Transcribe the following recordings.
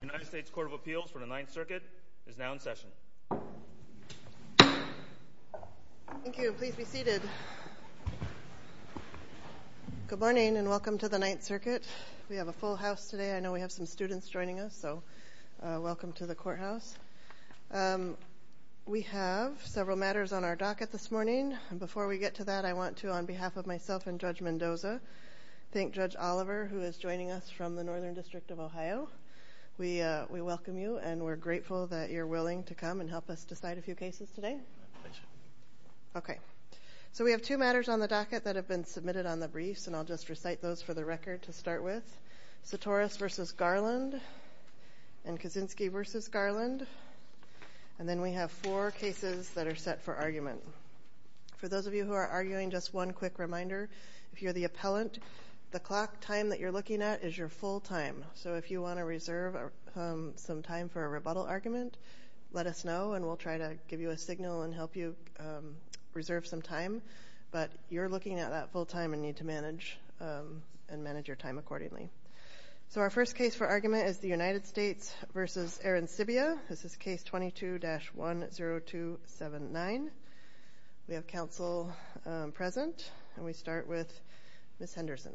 The United States Court of Appeals for the Ninth Circuit is now in session. Thank you. Please be seated. Good morning and welcome to the Ninth Circuit. We have a full house today. I know we have some students joining us, so welcome to the courthouse. We have several matters on our docket this morning. Before we get to that, I want to, on behalf of myself and Judge Mendoza, thank Judge Oliver, who is joining us from the Northern District of Ohio. We welcome you and we're grateful that you're willing to come and help us decide a few cases today. Okay. So we have two matters on the docket that have been submitted on the briefs, and I'll just recite those for the record to start with. Sotoris v. Garland and Kaczynski v. Garland. And then we have four cases that are set for argument. For those of you who are arguing, just one quick reminder. If you're the appellant, the clock time that you're looking at is your full time. So if you want to reserve some time for a rebuttal argument, let us know, and we'll try to give you a signal and help you reserve some time. But you're looking at that full time and need to manage your time accordingly. So our first case for argument is the United States v. Aaron Sibia. This is case 22-10279. We have counsel present, and we start with Ms. Henderson.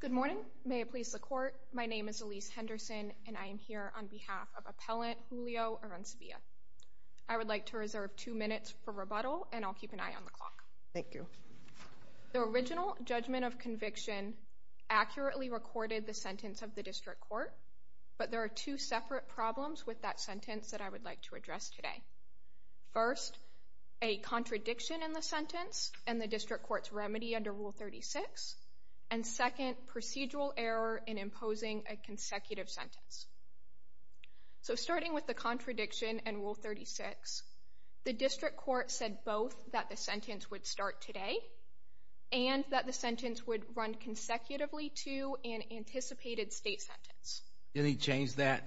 Good morning. May it please the court. My name is Elise Henderson, and I am here on behalf of appellant Julio Aaron Sibia. I would like to reserve two minutes for rebuttal, and I'll keep an eye on the clock. Thank you. The original judgment of conviction accurately recorded the sentence of the district court, but there are two separate problems with that sentence that I would like to address today. First, a contradiction in the sentence and the district court's remedy under Rule 36, and second, procedural error in imposing a consecutive sentence. So starting with the contradiction in Rule 36, the district court said both that the sentence would start today and that the sentence would run consecutively to an anticipated state sentence. Didn't he change that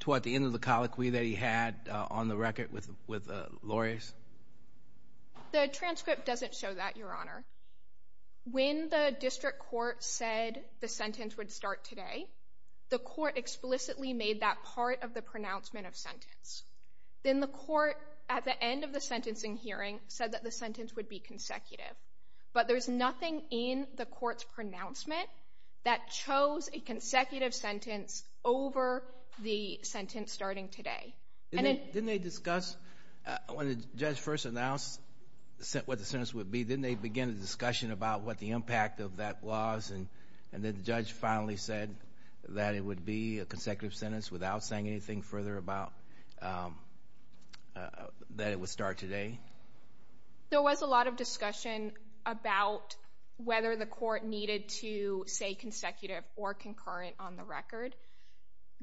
toward the end of the colloquy that he had on the record with the lawyers? The transcript doesn't show that, Your Honor. When the district court said the sentence would start today, the court explicitly made that part of the pronouncement of sentence. Then the court, at the end of the sentencing hearing, said that the sentence would be consecutive. But there's nothing in the court's pronouncement that chose a consecutive sentence over the sentence starting today. Didn't they discuss when the judge first announced what the sentence would be, didn't they begin a discussion about what the impact of that was, and then the judge finally said that it would be a consecutive sentence without saying anything further about that it would start today? There was a lot of discussion about whether the court needed to say consecutive or concurrent on the record.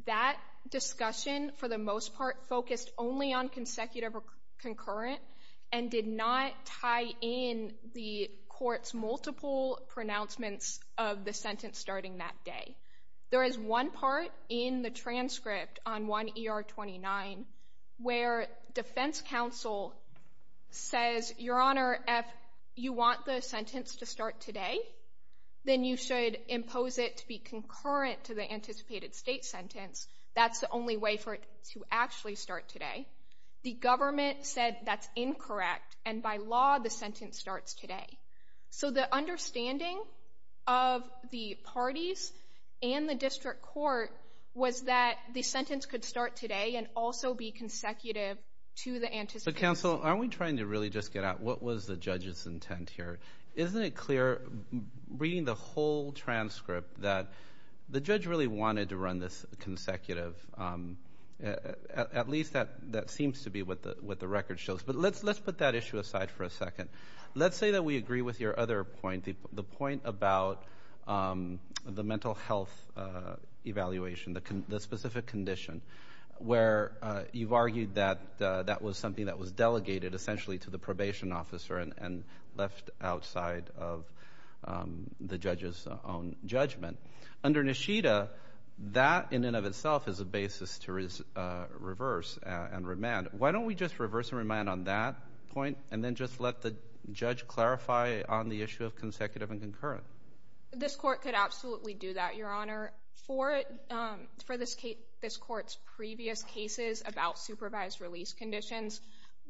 That discussion, for the most part, focused only on consecutive or concurrent and did not tie in the court's multiple pronouncements of the sentence starting that day. There is one part in the transcript on 1 ER 29 where defense counsel says, Your Honor, if you want the sentence to start today, then you should impose it to be concurrent to the anticipated state sentence. That's the only way for it to actually start today. The government said that's incorrect, and by law the sentence starts today. So the understanding of the parties and the district court was that the sentence could start today and also be consecutive to the anticipated sentence. But, counsel, aren't we trying to really just get at what was the judge's intent here? Isn't it clear, reading the whole transcript, that the judge really wanted to run this consecutive? At least that seems to be what the record shows. But let's put that issue aside for a second. Let's say that we agree with your other point, the point about the mental health evaluation, the specific condition, where you've argued that that was something that was delegated essentially to the probation officer and left outside of the judge's own judgment. Under Nishida, that in and of itself is a basis to reverse and remand. Why don't we just reverse and remand on that point and then just let the judge clarify on the issue of consecutive and concurrent? This court could absolutely do that, Your Honor. For this court's previous cases about supervised release conditions,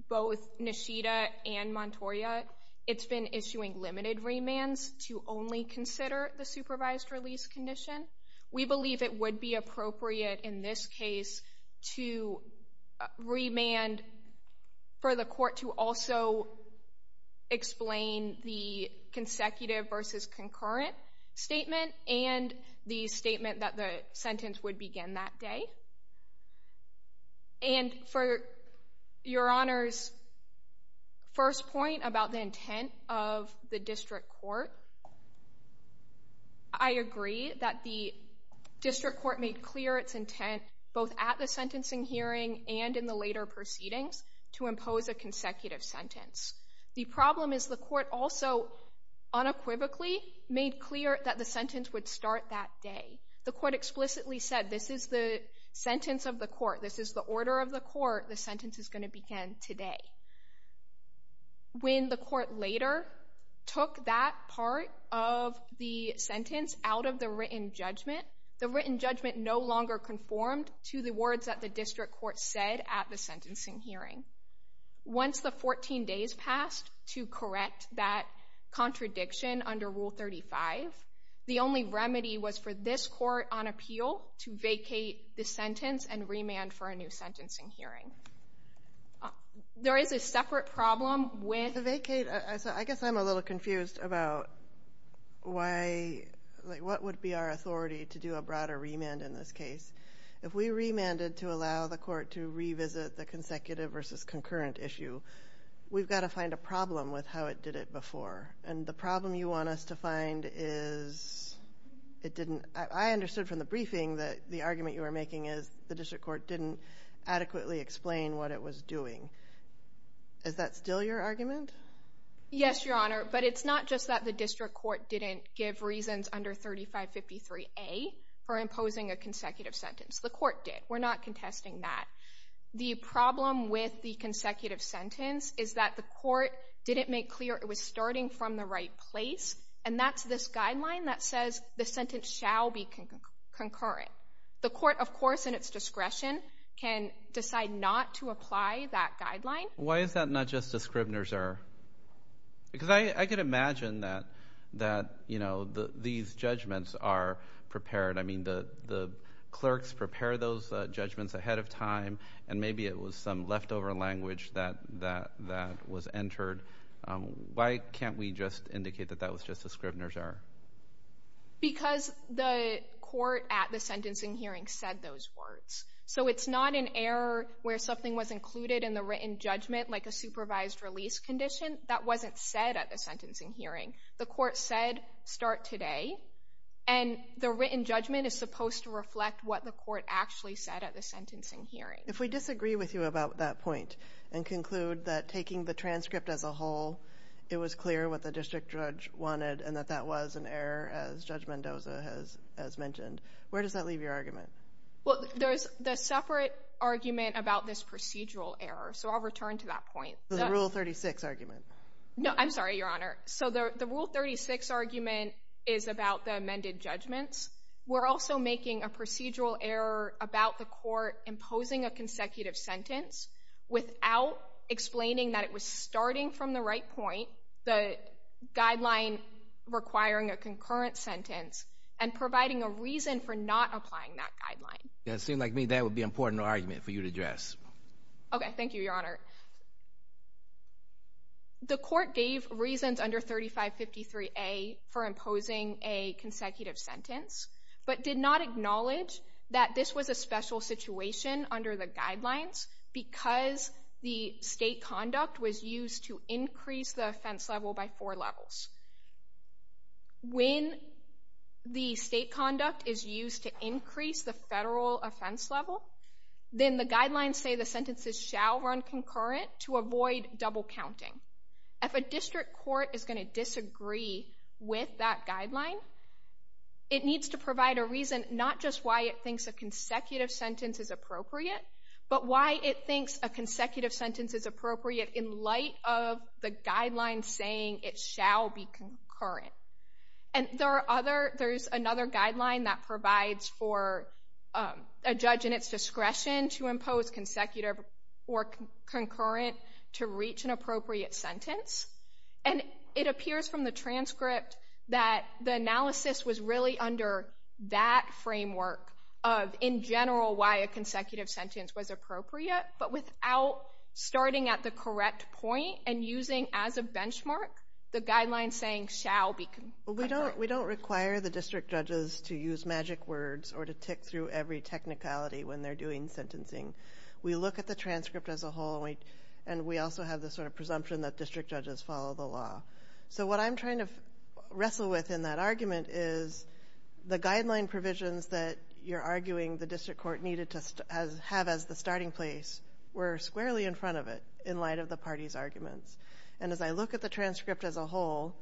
both Nishida and Montoya, it's been issuing limited remands to only consider the supervised release condition. We believe it would be appropriate in this case to remand for the court to also explain the consecutive versus concurrent statement and the statement that the sentence would begin that day. And for Your Honor's first point about the intent of the district court, I agree that the district court made clear its intent both at the sentencing hearing and in the later proceedings to impose a consecutive sentence. The problem is the court also unequivocally made clear that the sentence would start that day. The court explicitly said this is the sentence of the court, this is the order of the court, the sentence is going to begin today. When the court later took that part of the sentence out of the written judgment, the written judgment no longer conformed to the words that the district court said at the sentencing hearing. Once the 14 days passed to correct that contradiction under Rule 35, the only remedy was for this court on appeal to vacate the sentence and remand for a new sentencing hearing. There is a separate problem with the vacate. I guess I'm a little confused about what would be our authority to do a broader remand in this case. If we remanded to allow the court to revisit the consecutive versus concurrent issue, we've got to find a problem with how it did it before. And the problem you want us to find is it didn't. I understood from the briefing that the argument you were making is the district court didn't adequately explain what it was doing. Is that still your argument? Yes, Your Honor, but it's not just that the district court didn't give reasons under 3553A for imposing a consecutive sentence. The court did. We're not contesting that. The problem with the consecutive sentence is that the court didn't make clear it was starting from the right place, and that's this guideline that says the sentence shall be concurrent. The court, of course, in its discretion, can decide not to apply that guideline. Why is that not just a Scribner's error? Because I could imagine that, you know, these judgments are prepared. I mean, the clerks prepare those judgments ahead of time, and maybe it was some leftover language that was entered. Why can't we just indicate that that was just a Scribner's error? Because the court at the sentencing hearing said those words. So it's not an error where something was included in the written judgment like a supervised release condition. That wasn't said at the sentencing hearing. The court said start today, and the written judgment is supposed to reflect what the court actually said at the sentencing hearing. If we disagree with you about that point and conclude that taking the transcript as a whole, it was clear what the district judge wanted and that that was an error, as Judge Mendoza has mentioned, where does that leave your argument? Well, there's the separate argument about this procedural error, so I'll return to that point. The Rule 36 argument. No, I'm sorry, Your Honor. So the Rule 36 argument is about the amended judgments. We're also making a procedural error about the court imposing a consecutive sentence without explaining that it was starting from the right point, the guideline requiring a concurrent sentence, and providing a reason for not applying that guideline. It seems like to me that would be an important argument for you to address. Okay. Thank you, Your Honor. The court gave reasons under 3553A for imposing a consecutive sentence, but did not acknowledge that this was a special situation under the guidelines because the state conduct was used to increase the offense level by four levels. When the state conduct is used to increase the federal offense level, then the guidelines say the sentences shall run concurrent to avoid double counting. If a district court is going to disagree with that guideline, it needs to provide a reason not just why it thinks a consecutive sentence is appropriate, but why it thinks a consecutive sentence is appropriate in light of the guidelines saying it shall be concurrent. And there's another guideline that provides for a judge in its discretion to impose consecutive or concurrent to reach an appropriate sentence. And it appears from the transcript that the analysis was really under that framework of, in general, why a consecutive sentence was appropriate, but without starting at the correct point and using as a benchmark the guidelines saying shall be concurrent. We don't require the district judges to use magic words or to tick through every technicality when they're doing sentencing. We look at the transcript as a whole, and we also have this sort of presumption that district judges follow the law. So what I'm trying to wrestle with in that argument is the guideline provisions that you're arguing the district court needed to have as the starting place were squarely in front of it in light of the party's arguments. And as I look at the transcript as a whole,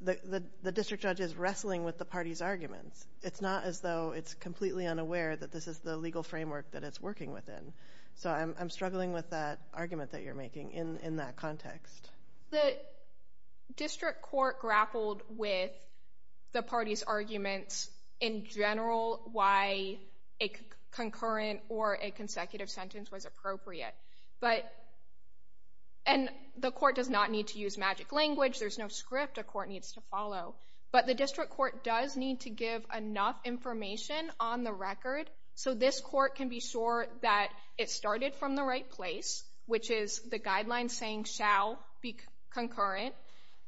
the district judge is wrestling with the party's arguments. It's not as though it's completely unaware that this is the legal framework that it's working within. So I'm struggling with that argument that you're making in that context. The district court grappled with the party's arguments in general, why a concurrent or a consecutive sentence was appropriate. And the court does not need to use magic language. There's no script a court needs to follow. But the district court does need to give enough information on the record so this court can be sure that it started from the right place, which is the guideline saying shall be concurrent,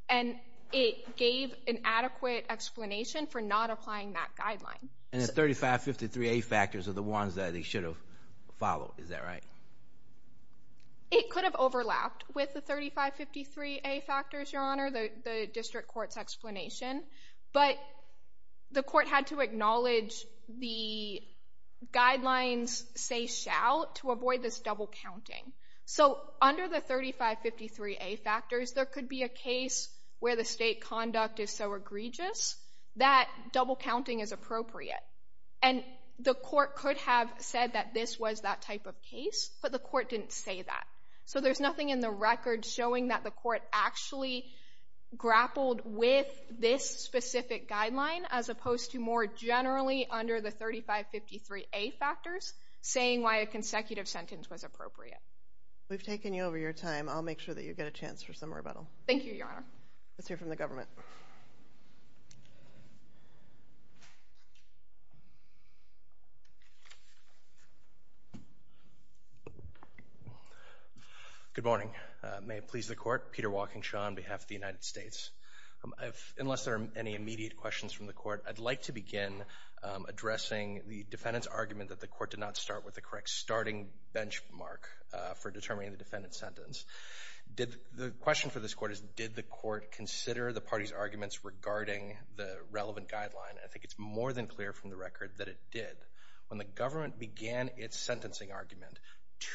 and it gave an adequate explanation for not applying that guideline. And the 3553A factors are the ones that it should have followed. Is that right? It could have overlapped with the 3553A factors, Your Honor, the district court's explanation. But the court had to acknowledge the guidelines say shall to avoid this double counting. So under the 3553A factors, there could be a case where the state conduct is so egregious that double counting is appropriate. And the court could have said that this was that type of case, but the court didn't say that. So there's nothing in the record showing that the court actually grappled with this specific guideline as opposed to more generally under the 3553A factors saying why a consecutive sentence was appropriate. We've taken you over your time. I'll make sure that you get a chance for some rebuttal. Thank you, Your Honor. Let's hear from the government. Good morning. May it please the court. Peter Walkingshaw on behalf of the United States. Unless there are any immediate questions from the court, I'd like to begin addressing the defendant's argument that the court did not start with the correct starting benchmark for determining the defendant's sentence. The question for this court is did the court consider the party's arguments regarding the relevant guideline? I think it's more than clear from the record that it did. When the government began its sentencing argument,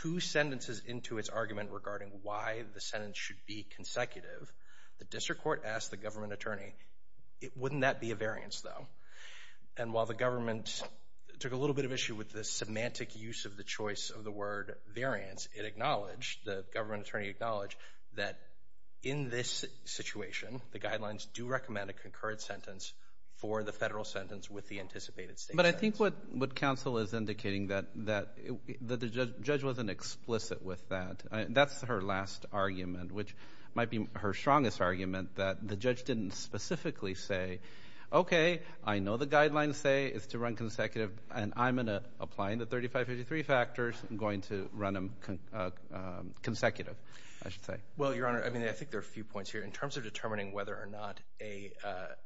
two sentences into its argument regarding why the sentence should be consecutive, the district court asked the government attorney, wouldn't that be a variance, though? And while the government took a little bit of issue with the semantic use of the choice of the word variance, it acknowledged, the government attorney acknowledged, that in this situation, the guidelines do recommend a concurrent sentence for the federal sentence with the anticipated state sentence. But I think what counsel is indicating that the judge wasn't explicit with that. That's her last argument, which might be her strongest argument, that the judge didn't specifically say, okay, I know the guidelines say it's to run consecutive, and I'm going to apply the 3553 factors, I'm going to run them consecutive, I should say. Well, Your Honor, I think there are a few points here. In terms of determining whether or not an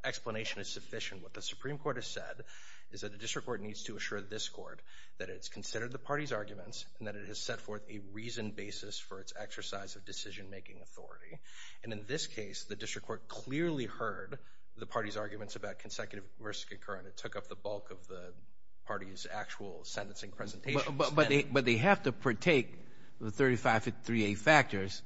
explanation is sufficient, what the Supreme Court has said is that the district court needs to assure this court that it's considered the party's arguments and that it has set forth a reasoned basis for its exercise of decision-making authority. And in this case, the district court clearly heard the party's arguments about consecutive versus concurrent. It took up the bulk of the party's actual sentencing presentation. But they have to partake of the 3553A factors,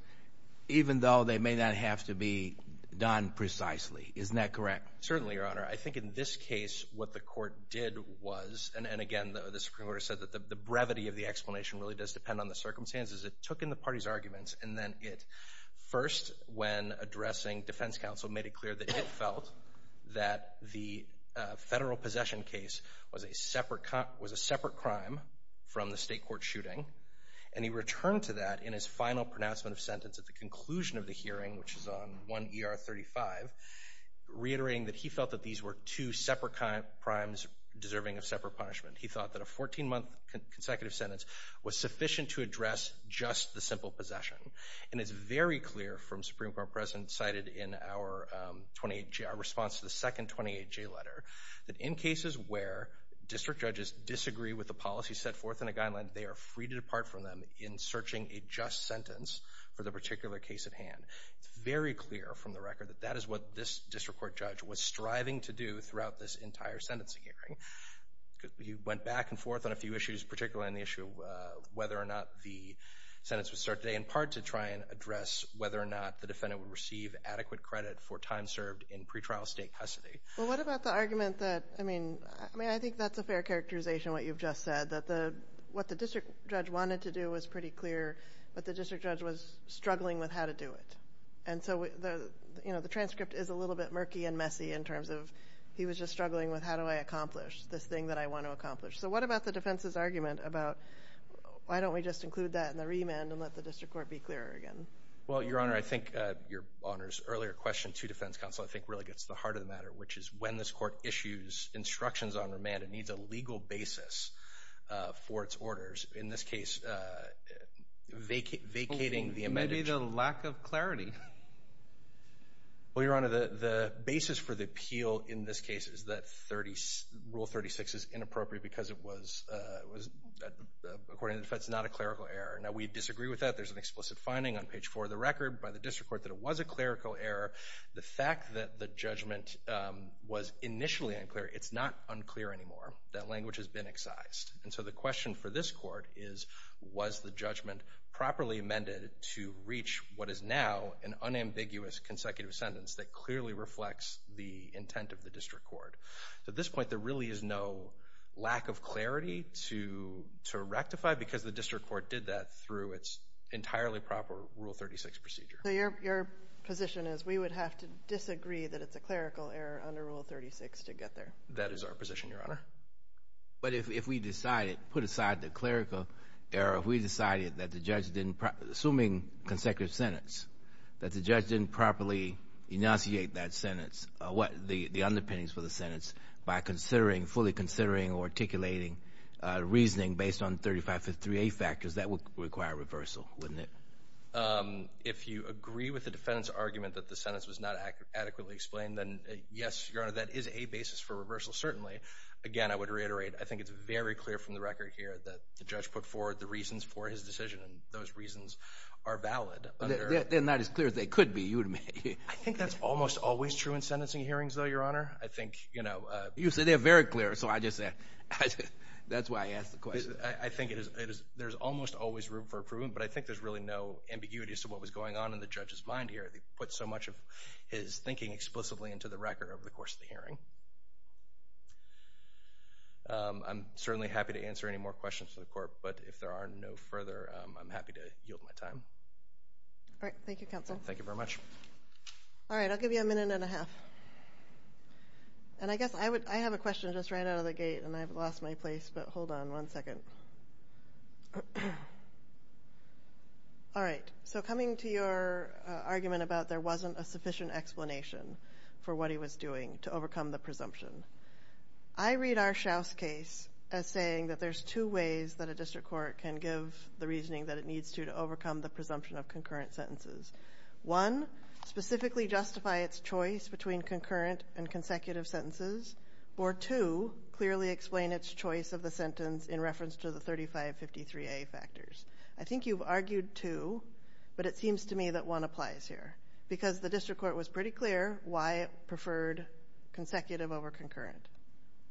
even though they may not have to be done precisely. Isn't that correct? Certainly, Your Honor. I think in this case what the court did was, and again the Supreme Court has said that the brevity of the explanation really does depend on the circumstances, it took in the party's arguments and then it first, when addressing defense counsel, made it clear that it felt that the federal possession case was a separate crime from the state court shooting. And he returned to that in his final pronouncement of sentence at the conclusion of the hearing, which is on 1ER35, reiterating that he felt that these were two separate crimes deserving of separate punishment. He thought that a 14-month consecutive sentence was sufficient to address just the simple possession. And it's very clear from Supreme Court precedent cited in our response to the second 28J letter, that in cases where district judges disagree with the policy set forth in a guideline, they are free to depart from them in searching a just sentence for the particular case at hand. It's very clear from the record that that is what this district court judge was striving to do throughout this entire sentencing hearing. He went back and forth on a few issues, particularly on the issue of whether or not the sentence would start today, in part to try and address whether or not the defendant would receive adequate credit for time served in pretrial state custody. Well, what about the argument that, I mean, I think that's a fair characterization, what you've just said, that what the district judge wanted to do was pretty clear, but the district judge was struggling with how to do it. And so the transcript is a little bit murky and messy in terms of he was just struggling with how do I accomplish this thing that I want to accomplish. So what about the defense's argument about why don't we just include that in the remand and let the district court be clearer again? Well, Your Honor, I think Your Honor's earlier question to defense counsel I think really gets to the heart of the matter, which is when this court issues instructions on remand, it needs a legal basis for its orders. In this case, vacating the amendment. Maybe the lack of clarity. Well, Your Honor, the basis for the appeal in this case is that Rule 36 is inappropriate because it was, according to the defense, not a clerical error. Now, we disagree with that. There's an explicit finding on page 4 of the record by the district court that it was a clerical error. The fact that the judgment was initially unclear, it's not unclear anymore. That language has been excised. And so the question for this court is, was the judgment properly amended to reach what is now an unambiguous consecutive sentence that clearly reflects the intent of the district court? At this point, there really is no lack of clarity to rectify because the district court did that through its entirely proper Rule 36 procedure. So your position is we would have to disagree that it's a clerical error under Rule 36 to get there? That is our position, Your Honor. But if we decided, put aside the clerical error, if we decided that the judge didn't, assuming consecutive sentence, that the judge didn't properly enunciate that sentence, the underpinnings for the sentence, by considering, fully considering or articulating reasoning based on 3553A factors, that would require reversal, wouldn't it? If you agree with the defendant's argument that the sentence was not adequately explained, then, yes, Your Honor, that is a basis for reversal, certainly. Again, I would reiterate, I think it's very clear from the record here that the judge put forward the reasons for his decision, and those reasons are valid. They're not as clear as they could be, you would imagine. I think that's almost always true in sentencing hearings, though, Your Honor. I think, you know. You say they're very clear, so I just said, that's why I asked the question. I think there's almost always room for improvement, but I think there's really no ambiguity as to what was going on in the judge's mind here. He put so much of his thinking explicitly into the record over the course of the hearing. I'm certainly happy to answer any more questions for the Court, but if there are no further, I'm happy to yield my time. All right, thank you, Counsel. Thank you very much. All right, I'll give you a minute and a half. And I guess I have a question that just ran out of the gate, and I've lost my place, but hold on one second. All right, so coming to your argument about there wasn't a sufficient explanation for what he was doing to overcome the presumption, I read R. Shouse's case as saying that there's two ways that a district court can give the reasoning that it needs to to overcome the presumption of concurrent sentences. One, specifically justify its choice between concurrent and consecutive sentences, or two, clearly explain its choice of the sentence in reference to the 3553A factors. I think you've argued two, but it seems to me that one applies here, because the district court was pretty clear why it preferred consecutive over concurrent.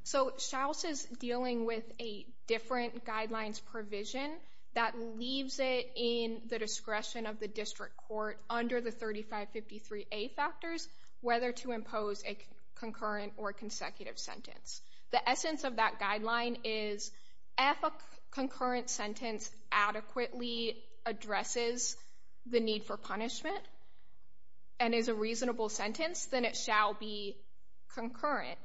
So Shouse is dealing with a different guidelines provision that leaves it in the discretion of the district court under the 3553A factors whether to impose a concurrent or consecutive sentence. The essence of that guideline is if a concurrent sentence adequately addresses the need for punishment and is a reasonable sentence, then it shall be concurrent.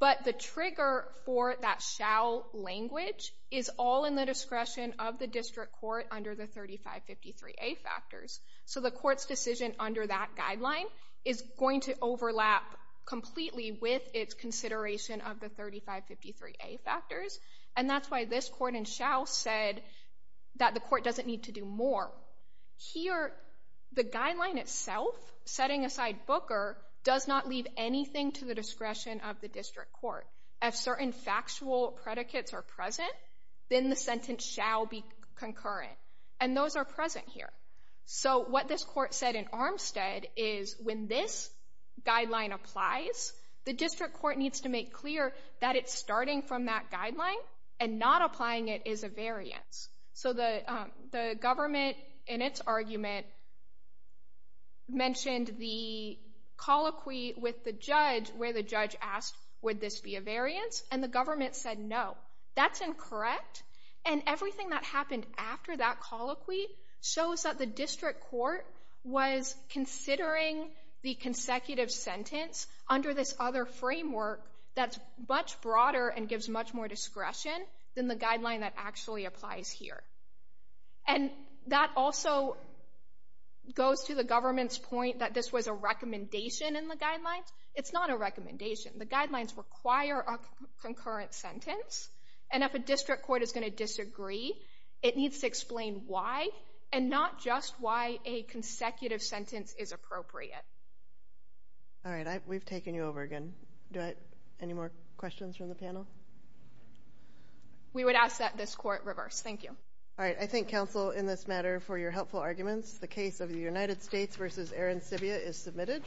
But the trigger for that shall language is all in the discretion of the district court under the 3553A factors. So the court's decision under that guideline is going to overlap completely with its consideration of the 3553A factors, and that's why this court in Shouse said that the court doesn't need to do more. Here, the guideline itself, setting aside Booker, does not leave anything to the discretion of the district court. If certain factual predicates are present, then the sentence shall be concurrent. And those are present here. So what this court said in Armstead is when this guideline applies, the district court needs to make clear that it's starting from that guideline and not applying it as a variance. So the government, in its argument, mentioned the colloquy with the judge where the judge asked, would this be a variance? And the government said no. That's incorrect, and everything that happened after that colloquy shows that the district court was considering the consecutive sentence under this other framework that's much broader and gives much more discretion than the guideline that actually applies here. And that also goes to the government's point that this was a recommendation in the guidelines. It's not a recommendation. The guidelines require a concurrent sentence, and if a district court is going to disagree, it needs to explain why and not just why a consecutive sentence is appropriate. All right, we've taken you over again. Do I have any more questions from the panel? We would ask that this court reverse. Thank you. All right, I thank counsel in this matter for your helpful arguments. The case of the United States v. Aaron Sibbia is submitted.